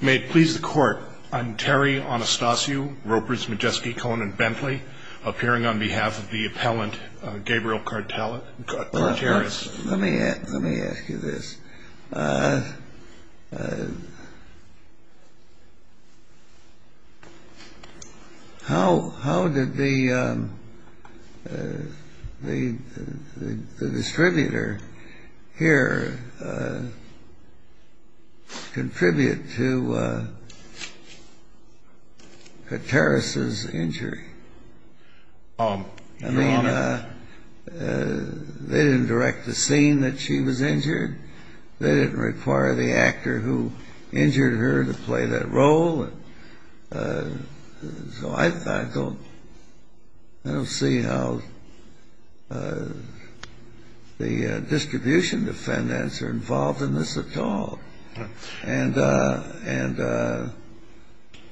May it please the Court, I'm Terry Anastasio Ropers Majeski Cohen and Bentley, appearing on behalf of the appellant Gabriel Carteris. Let me ask you this. How did the distributor here contribute to Carteris' injury? I mean, they didn't direct the scene that she was injured. They didn't require the actor who injured her to play that role. So I don't see how the distribution defendants are involved in this at all. And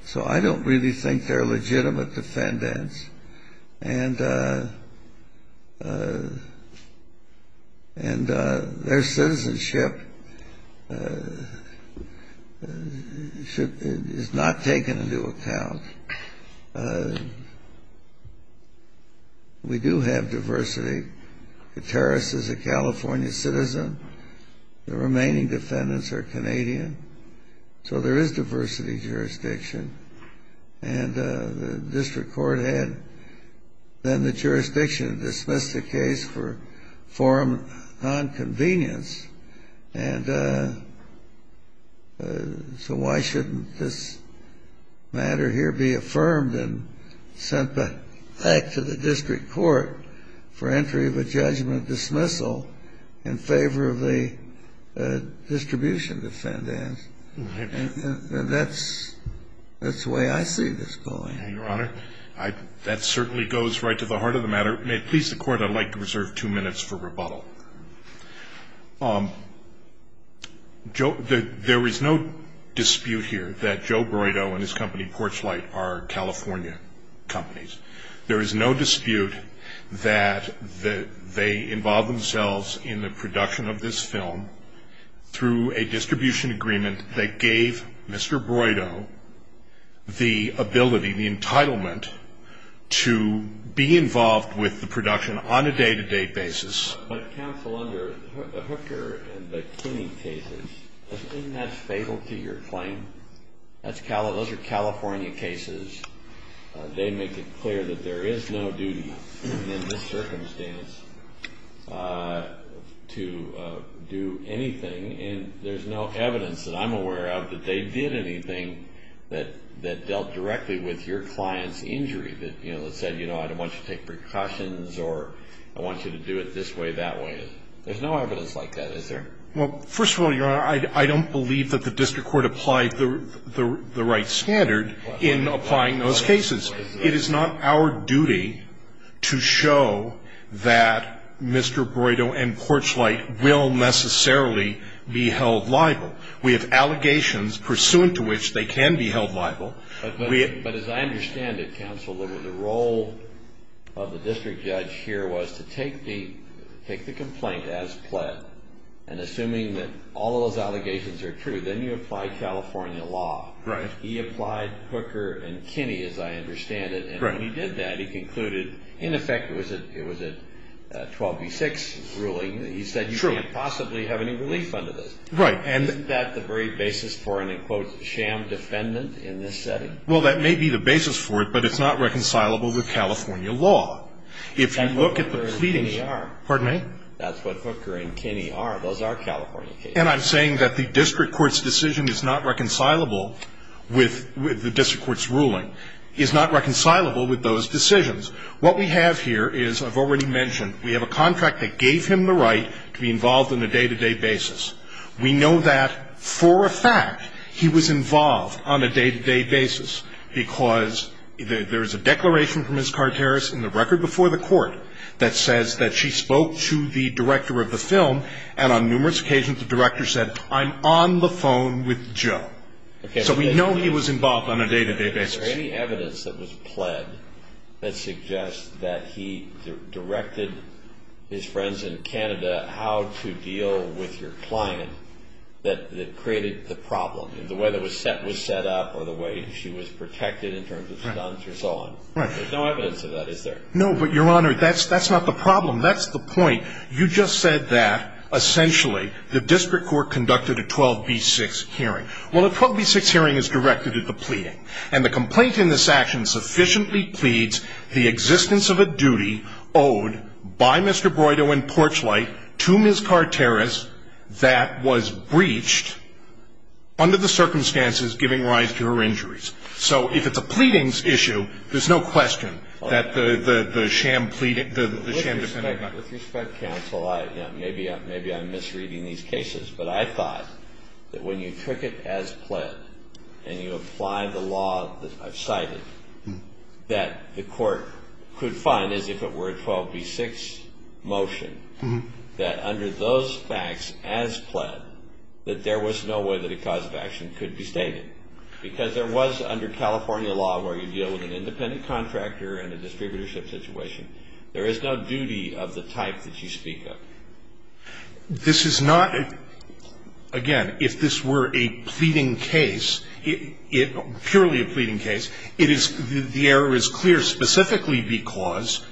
so I don't really think they're legitimate defendants. And their citizenship is not taken into account. We do have diversity. Carteris is a California citizen. The remaining defendants are Canadian. So there is diversity in jurisdiction. And the district court had then the jurisdiction to dismiss the case for form of nonconvenience. And so why shouldn't this matter here be affirmed and sent back to the district court for entry of a judgment dismissal in favor of the distribution defendants? And that's the way I see this going. Your Honor, that certainly goes right to the heart of the matter. May it please the court, I'd like to reserve two minutes for rebuttal. There is no dispute here that Joe Broido and his company Porchlight are California companies. There is no dispute that they involved themselves in the production of this film through a distribution agreement that gave Mr. Broido the ability, the entitlement to be involved with the production on a day-to-day basis. But counsel, under Hooker and Bikini cases, isn't that fatal to your claim? Those are California cases. They make it clear that there is no duty in this circumstance to do anything. And there's no evidence that I'm aware of that they did anything that dealt directly with your client's injury. That said, you know, I don't want you to take precautions or I want you to do it this way, that way. There's no evidence like that, is there? Well, first of all, Your Honor, I don't believe that the district court applied the right standard in applying those cases. It is not our duty to show that Mr. Broido and Porchlight will necessarily be held liable. We have allegations pursuant to which they can be held liable. But as I understand it, counsel, the role of the district judge here was to take the complaint as pled and assuming that all of those allegations are true, then you apply California law. Right. He applied Hooker and Bikini, as I understand it. Right. And when he did that, he concluded, in effect, it was a 12 v. 6 ruling. True. He said you can't possibly have any relief under this. Right. Isn't that the very basis for an, in quotes, sham defendant in this setting? Well, that may be the basis for it, but it's not reconcilable with California law. And Hooker and Bikini are. Pardon me? That's what Hooker and Bikini are. Those are California cases. And I'm saying that the district court's decision is not reconcilable with the district court's ruling, is not reconcilable with those decisions. What we have here is, I've already mentioned, we have a contract that gave him the right to be involved in a day-to-day basis. We know that, for a fact, he was involved on a day-to-day basis because there is a declaration from Ms. Carteris in the record before the court that says that she spoke to the director of the film, and on numerous occasions, the director said, I'm on the phone with Joe. Okay. So we know he was involved on a day-to-day basis. Is there any evidence that was pled that suggests that he directed his friends in Canada how to deal with your client that created the problem? The way the set was set up or the way she was protected in terms of stunts or so on. Right. There's no evidence of that, is there? No, but, Your Honor, that's not the problem. That's the point. You just said that, essentially, the district court conducted a 12B6 hearing. Well, a 12B6 hearing is directed at the pleading, and the complaint in this action sufficiently pleads the existence of a duty owed by Mr. Broido and Porchlight to Ms. Carteris that was breached under the circumstances giving rise to her injuries. So if it's a pleadings issue, there's no question that the sham defendant… With respect, counsel, maybe I'm misreading these cases, but I thought that when you took it as pled and you apply the law that I've cited, that the court could find, as if it were a 12B6 motion, that under those facts as pled, that there was no way that a cause of action could be stated. Because there was, under California law, where you deal with an independent contractor and a distributorship situation, there is no duty of the type that you speak of. This is not, again, if this were a pleading case, purely a pleading case, the error is clear specifically because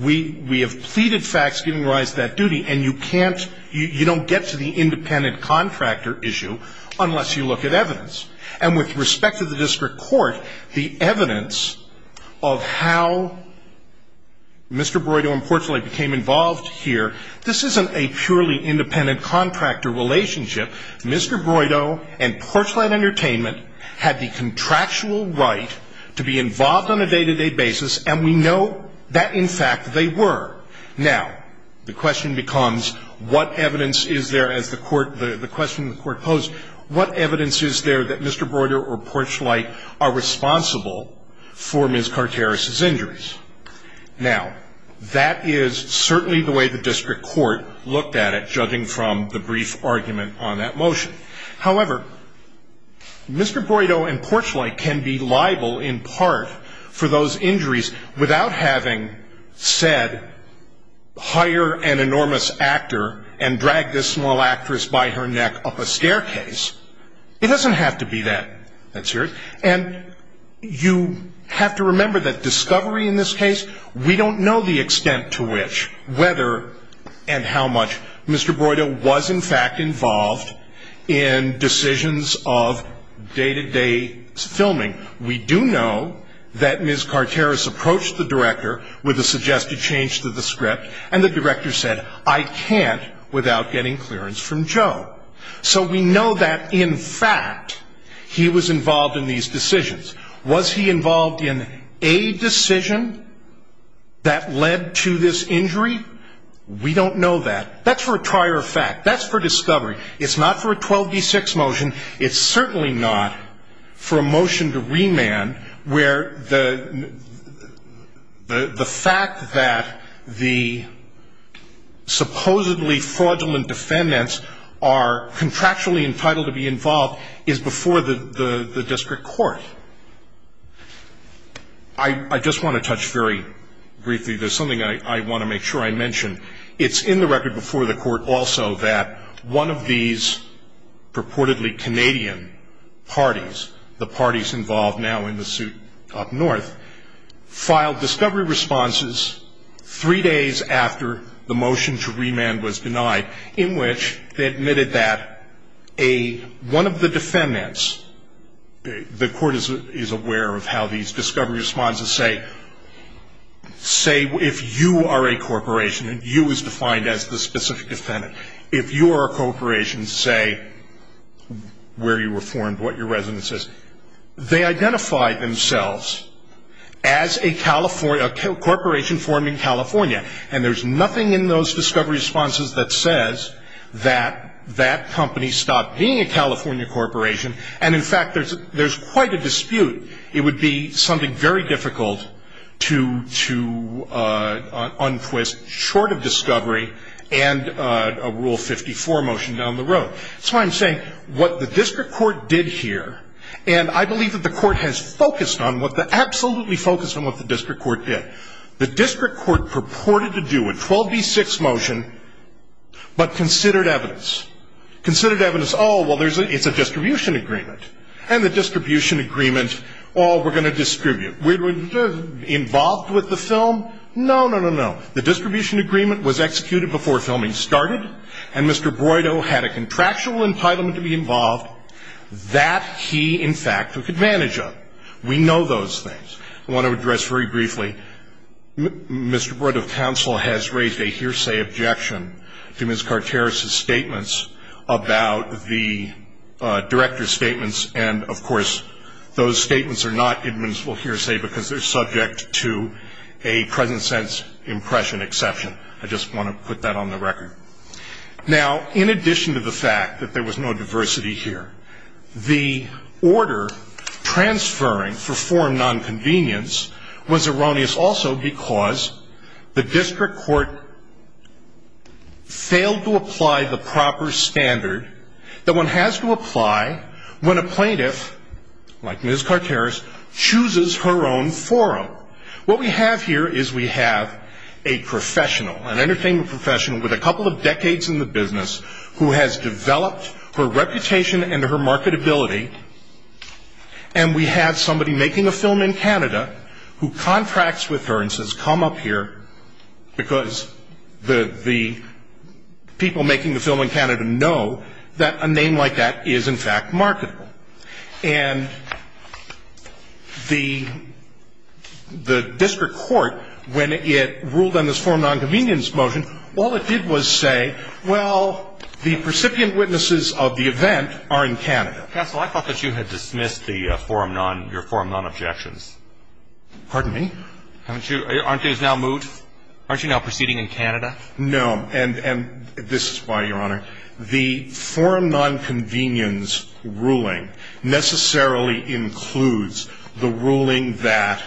we have pleaded facts giving rise to that duty, you don't get to the independent contractor issue unless you look at evidence. And with respect to the district court, the evidence of how Mr. Broido and Porchlight became involved here, this isn't a purely independent contractor relationship. Mr. Broido and Porchlight Entertainment had the contractual right to be involved on a day-to-day basis, and we know that, in fact, they were. Now, the question becomes, what evidence is there, as the court, the question the court posed, what evidence is there that Mr. Broido or Porchlight are responsible for Ms. Carteris's injuries? Now, that is certainly the way the district court looked at it, judging from the brief argument on that motion. However, Mr. Broido and Porchlight can be liable in part for those injuries without having said, hire an enormous actor and drag this small actress by her neck up a staircase. It doesn't have to be that. And you have to remember that discovery in this case, we don't know the extent to which, whether and how much Mr. Broido was, in fact, involved in decisions of day-to-day filming. We do know that Ms. Carteris approached the director with a suggested change to the script, and the director said, I can't without getting clearance from Joe. So we know that, in fact, he was involved in these decisions. Was he involved in a decision that led to this injury? We don't know that. That's for a prior fact. That's for discovery. It's not for a 12D6 motion. It's certainly not for a motion to remand where the fact that the supposedly fraudulent defendants are contractually entitled to be involved is before the district court. I just want to touch very briefly. There's something I want to make sure I mention. It's in the record before the court also that one of these purportedly Canadian parties, the parties involved now in the suit up north, filed discovery responses three days after the motion to remand was denied, in which they admitted that one of the defendants, the court is aware of how these discovery responses say, say, if you are a corporation, and you is defined as the specific defendant, if you are a corporation, say, where you were formed, what your residence is, they identified themselves as a corporation formed in California, and there's nothing in those discovery responses that says that that company stopped being a California corporation, and, in fact, there's quite a dispute. It would be something very difficult to untwist short of discovery and a Rule 54 motion down the road. That's why I'm saying what the district court did here, and I believe that the court has focused on what the ‑‑ absolutely focused on what the district court did. The district court purported to do a 12B6 motion, but considered evidence. Considered evidence, oh, well, it's a distribution agreement, and the distribution agreement, oh, we're going to distribute. We're involved with the film? No, no, no, no. The distribution agreement was executed before filming started, and Mr. Broido had a contractual entitlement to be involved. That he, in fact, took advantage of. We know those things. I want to address very briefly. Mr. Broido's counsel has raised a hearsay objection to Ms. Carteris' statements about the director's statements, and, of course, those statements are not admissible hearsay because they're subject to a present sense impression exception. I just want to put that on the record. Now, in addition to the fact that there was no diversity here, the order transferring for foreign nonconvenience was erroneous also because the district court failed to apply the proper standard that one has to apply when a plaintiff, like Ms. Carteris, chooses her own forum. What we have here is we have a professional, an entertainment professional with a couple of decades in the business who has developed her reputation and her marketability, and we have somebody making a film in Canada who contracts with her and says come up here because the people making the film in Canada know that a name like that is, in fact, marketable. And the district court, when it ruled on this foreign nonconvenience motion, all it did was say, well, the precipient witnesses of the event are in Canada. Counsel, I thought that you had dismissed the forum non – your forum nonobjections. Pardon me? Aren't you – aren't you now moot? Aren't you now proceeding in Canada? No. And this is why, Your Honor, the forum nonconvenience ruling necessarily includes the ruling that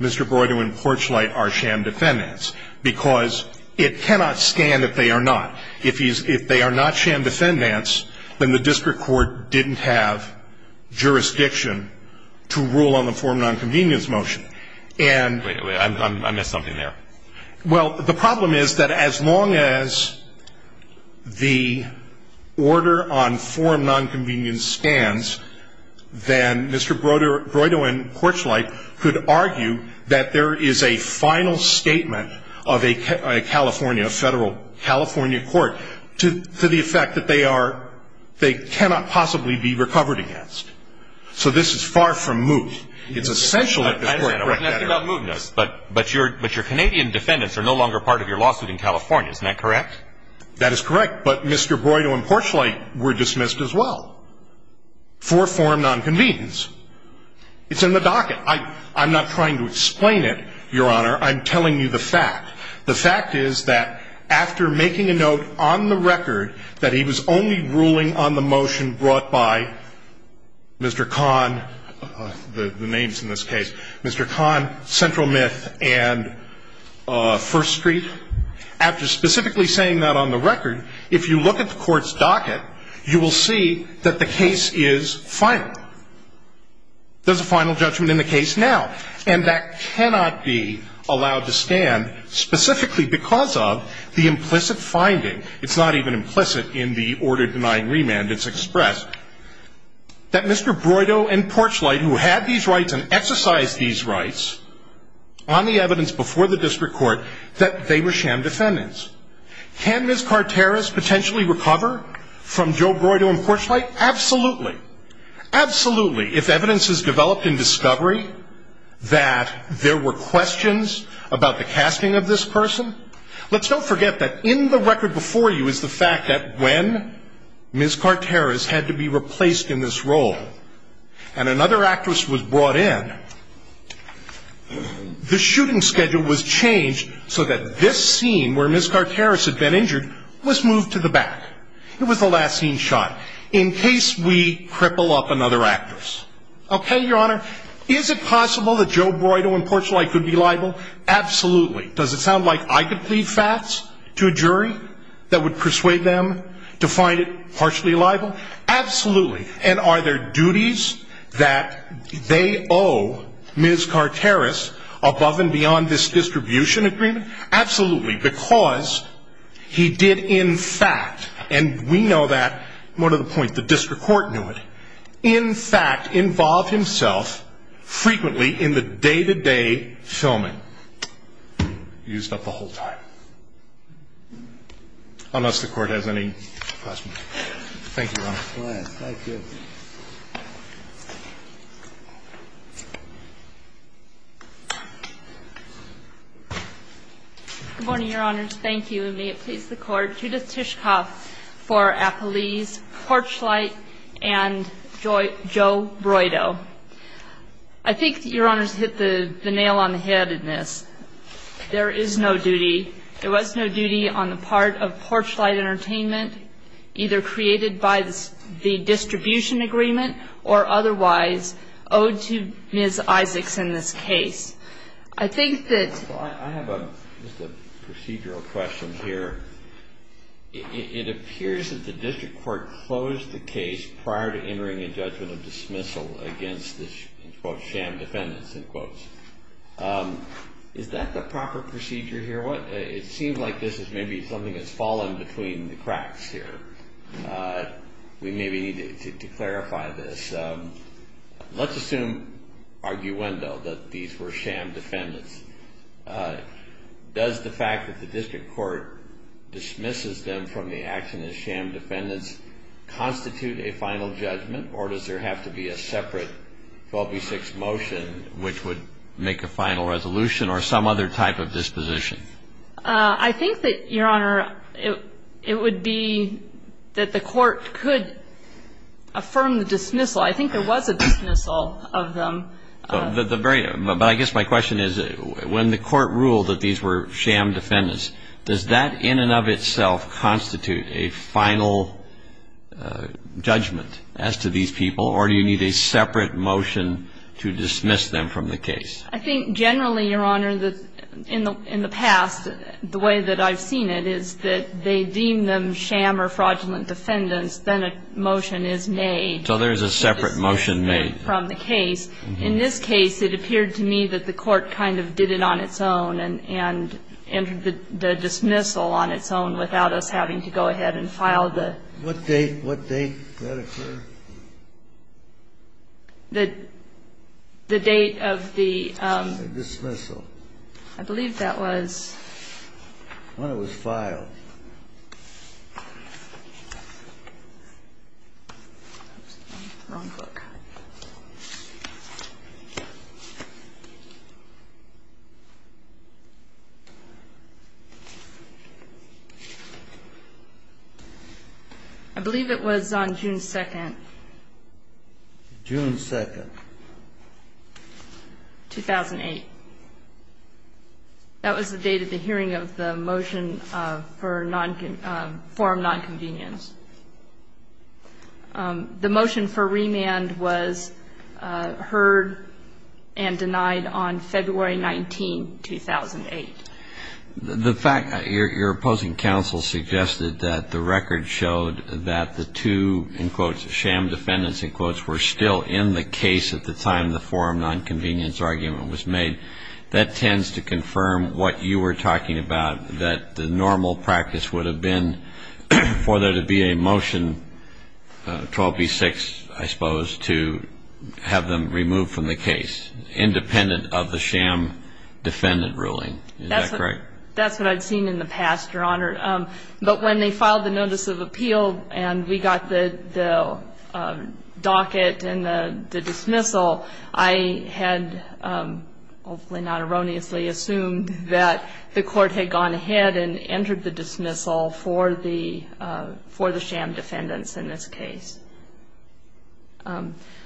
Mr. Broyden and Porchlight are sham defendants because it cannot stand that they are not. If they are not sham defendants, then the district court didn't have jurisdiction to rule on the forum nonconvenience motion. And – Wait, wait, I missed something there. Well, the problem is that as long as the order on forum nonconvenience stands, then Mr. Broyden and Porchlight could argue that there is a final statement of a California – a federal California court to the effect that they are – they cannot possibly be recovered against. So this is far from moot. It's essential that the court correct that error. I understand. I wasn't asking about mootness. But your Canadian defendants are no longer part of your lawsuit in California. Isn't that correct? That is correct. But Mr. Broyden and Porchlight were dismissed as well for forum nonconvenience. It's in the docket. I'm not trying to explain it, Your Honor. I'm telling you the fact. The fact is that after making a note on the record that he was only ruling on the motion brought by Mr. Kahn, the names in this case, Mr. Kahn, Central Myth, and First Street, after specifically saying that on the record, if you look at the court's docket, you will see that the case is final. There's a final judgment in the case now. And that cannot be allowed to stand specifically because of the implicit finding. It's not even implicit in the order denying remand. It's expressed that Mr. Broyden and Porchlight, who had these rights and exercised these rights, on the evidence before the district court that they were sham defendants. Can Ms. Carteris potentially recover from Joe Broyden and Porchlight? Absolutely. Absolutely. If evidence is developed in discovery that there were questions about the casting of this person, let's not forget that in the record before you is the fact that when Ms. Carteris had to be replaced in this role and another actress was brought in, the shooting schedule was changed so that this scene where Ms. Carteris had been injured was moved to the back. It was the last scene shot in case we cripple up another actress. Okay, Your Honor, is it possible that Joe Broyden and Porchlight could be liable? Absolutely. Does it sound like I could plead facts to a jury that would persuade them to find it partially liable? Absolutely. And are there duties that they owe Ms. Carteris above and beyond this distribution agreement? Absolutely, because he did in fact, and we know that more to the point the district court knew it, in fact involve himself frequently in the day-to-day filming. Used up the whole time. Unless the court has any questions. Thank you, Your Honor. Thank you. Good morning, Your Honors. Thank you. And may it please the Court, Judith Tishkoff for Apollese, Porchlight, and Joe Broyden. I think that Your Honors hit the nail on the head in this. There is no duty, there was no duty on the part of Porchlight Entertainment, either created by the distribution agreement or otherwise owed to Ms. Isaacs in this case. I think that. I have a procedural question here. It appears that the district court closed the case prior to entering a judgment of dismissal against this quote sham defendants in quotes. Is that the proper procedure here? Your Honor, it seems like this is maybe something that's fallen between the cracks here. We maybe need to clarify this. Let's assume arguendo that these were sham defendants. Does the fact that the district court dismisses them from the action as sham defendants constitute a final judgment or does there have to be a separate 12B6 motion which would make a final resolution or some other type of disposition? I think that, Your Honor, it would be that the court could affirm the dismissal. I think there was a dismissal of them. But I guess my question is when the court ruled that these were sham defendants, does that in and of itself constitute a final judgment as to these people, or do you need a separate motion to dismiss them from the case? I think generally, Your Honor, in the past the way that I've seen it is that they deem them sham or fraudulent defendants, then a motion is made. So there's a separate motion made. From the case. In this case, it appeared to me that the court kind of did it on its own and entered the dismissal on its own without us having to go ahead and file the ---- What date? What date did that occur? The date of the ---- The dismissal. I believe that was ---- When it was filed. I believe it was on June 2nd. June 2nd. 2008. That was the date of the hearing of the motion for dismissal. June 2nd. 2008. The motion for remand was heard and denied on February 19th, 2008. The fact that your opposing counsel suggested that the record showed that the two, in quotes, sham defendants, in quotes, were still in the case at the time the forum nonconvenience argument was made, that tends to confirm what you were talking about, that the normal practice would have been for there to be a motion, 12B-6, I suppose, to have them removed from the case, independent of the sham defendant ruling. Is that correct? That's what I'd seen in the past, Your Honor. But when they filed the notice of appeal and we got the docket and the dismissal, I had, hopefully not erroneously, assumed that the court had gone ahead and entered the dismissal for the sham defendants in this case.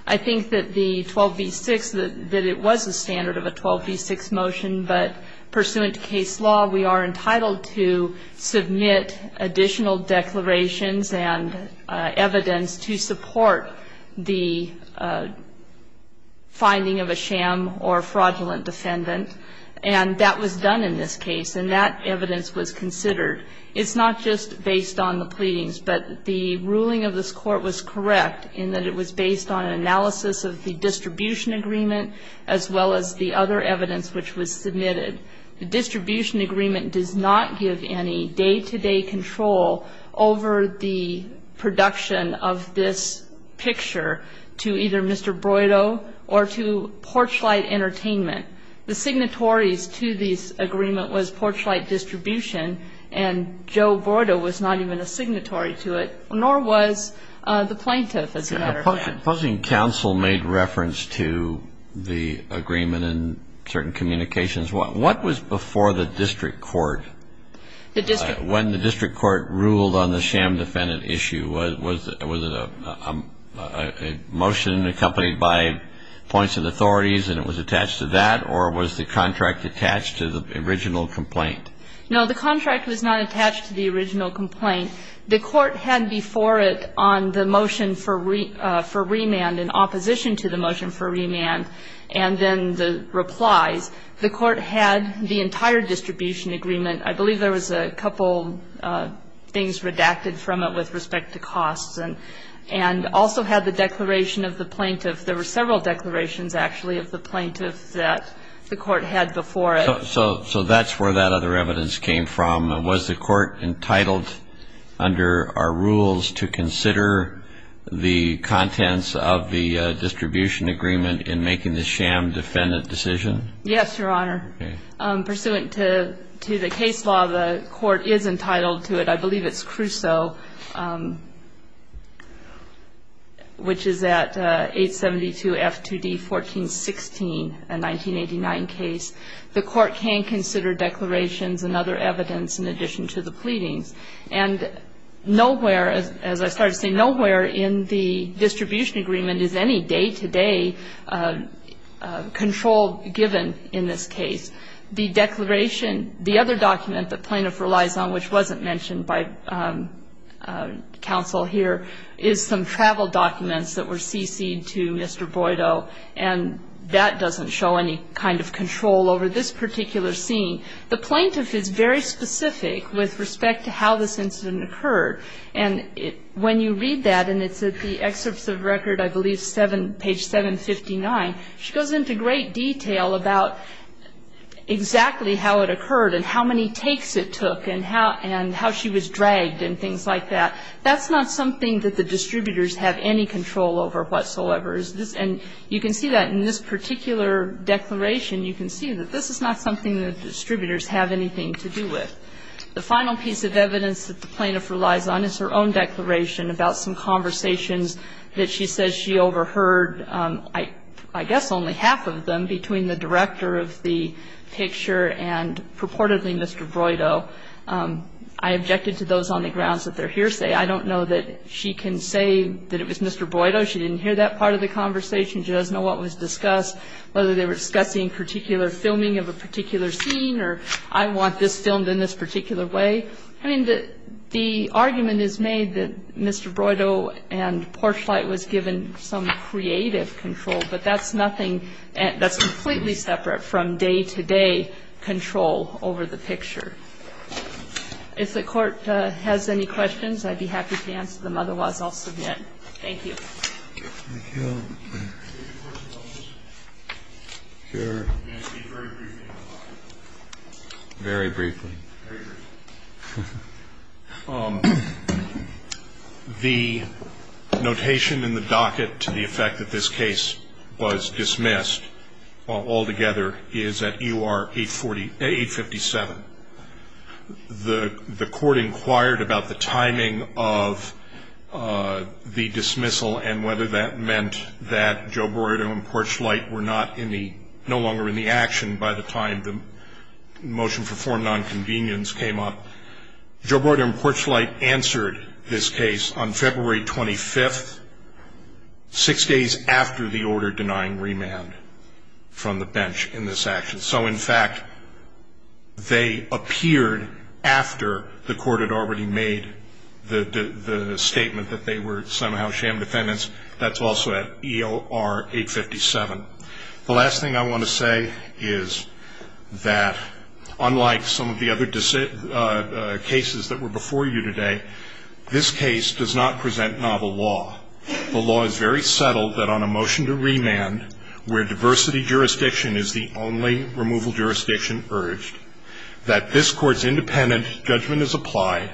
I think that the 12B-6, that it was a standard of a 12B-6 motion, but pursuant to case law we are entitled to submit additional declarations and evidence to support the finding of a sham or fraudulent defendant. And that was done in this case, and that evidence was considered. It's not just based on the pleadings, but the ruling of this Court was correct in that it was based on analysis of the distribution agreement as well as the other evidence which was submitted. The distribution agreement does not give any day-to-day control over the production of this picture to either Mr. Broido or to Porchlight Entertainment. The signatories to this agreement was Porchlight Distribution, and Joe Broido was not even a signatory to it, nor was the plaintiff, as a matter of fact. Posing counsel made reference to the agreement and certain communications, what was before the district court when the district court ruled on the sham defendant issue? Was it a motion accompanied by points of authorities and it was attached to that, or was the contract attached to the original complaint? No, the contract was not attached to the original complaint. The court had before it on the motion for remand, in opposition to the motion for remand, and then the replies. The court had the entire distribution agreement. I believe there was a couple things redacted from it with respect to costs and also had the declaration of the plaintiff. There were several declarations, actually, of the plaintiff that the court had before it. So that's where that other evidence came from. Was the court entitled under our rules to consider the contents of the distribution agreement in making the sham defendant decision? Yes, Your Honor. Okay. Pursuant to the case law, the court is entitled to it. I believe it's Crusoe, which is at 872 F2D 1416, a 1989 case. The court can consider declarations and other evidence in addition to the pleadings. And nowhere, as I started to say, nowhere in the distribution agreement is any day-to-day control given in this case. The declaration, the other document the plaintiff relies on, which wasn't mentioned by counsel here, is some travel documents that were cc'd to Mr. Boido, and that doesn't show any kind of control over this particular scene. The plaintiff is very specific with respect to how this incident occurred. And when you read that, and it's at the excerpts of record, I believe, page 759, she goes into great detail about exactly how it occurred and how many takes it took and how she was dragged and things like that. That's not something that the distributors have any control over whatsoever. And you can see that in this particular declaration. You can see that this is not something that distributors have anything to do with. The final piece of evidence that the plaintiff relies on is her own declaration about some conversations that she says she overheard, I guess only half of them, between the director of the picture and purportedly Mr. Boido. I objected to those on the grounds that they're hearsay. I don't know that she can say that it was Mr. Boido. She didn't hear that part of the conversation. She doesn't know what was discussed, whether they were discussing particular filming of a particular scene or I want this filmed in this particular way. I mean, the argument is made that Mr. Boido and Porchlight was given some creative control, but that's nothing that's completely separate from day-to-day control over the picture. If the Court has any questions, I'd be happy to answer them. Otherwise, I'll submit. Thank you. Thank you. Can I speak very briefly in the docket? Very briefly. Very briefly. The notation in the docket to the effect that this case was dismissed altogether is at U.R. 847. The Court inquired about the timing of the dismissal and whether that meant that Joe Boido and Porchlight were no longer in the action by the time the motion for foreign nonconvenience came up. Joe Boido and Porchlight answered this case on February 25th, six days after the order denying remand from the bench in this action. So, in fact, they appeared after the Court had already made the statement that they were somehow sham defendants. That's also at U.R. 857. The last thing I want to say is that, unlike some of the other cases that were before you today, this case does not present novel law. And I want to say that the Court has not presented a single case where the court's independent judgment is applied and where diversity jurisdiction is the only removal jurisdiction urged, that this Court's independent judgment is applied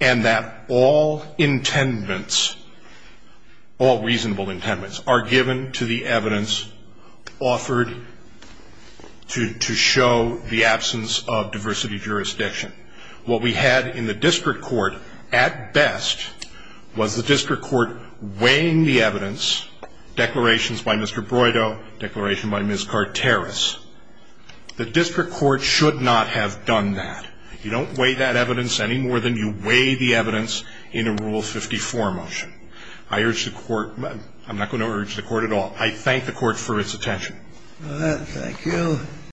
and that all intendments, all reasonable intendments, are given to the evidence declarations by Mr. Boido, declaration by Ms. Carteris. The district court should not have done that. You don't weigh that evidence any more than you weigh the evidence in a Rule 54 motion. I urge the Court – I'm not going to urge the Court at all. I thank the Court for its attention. Thank you.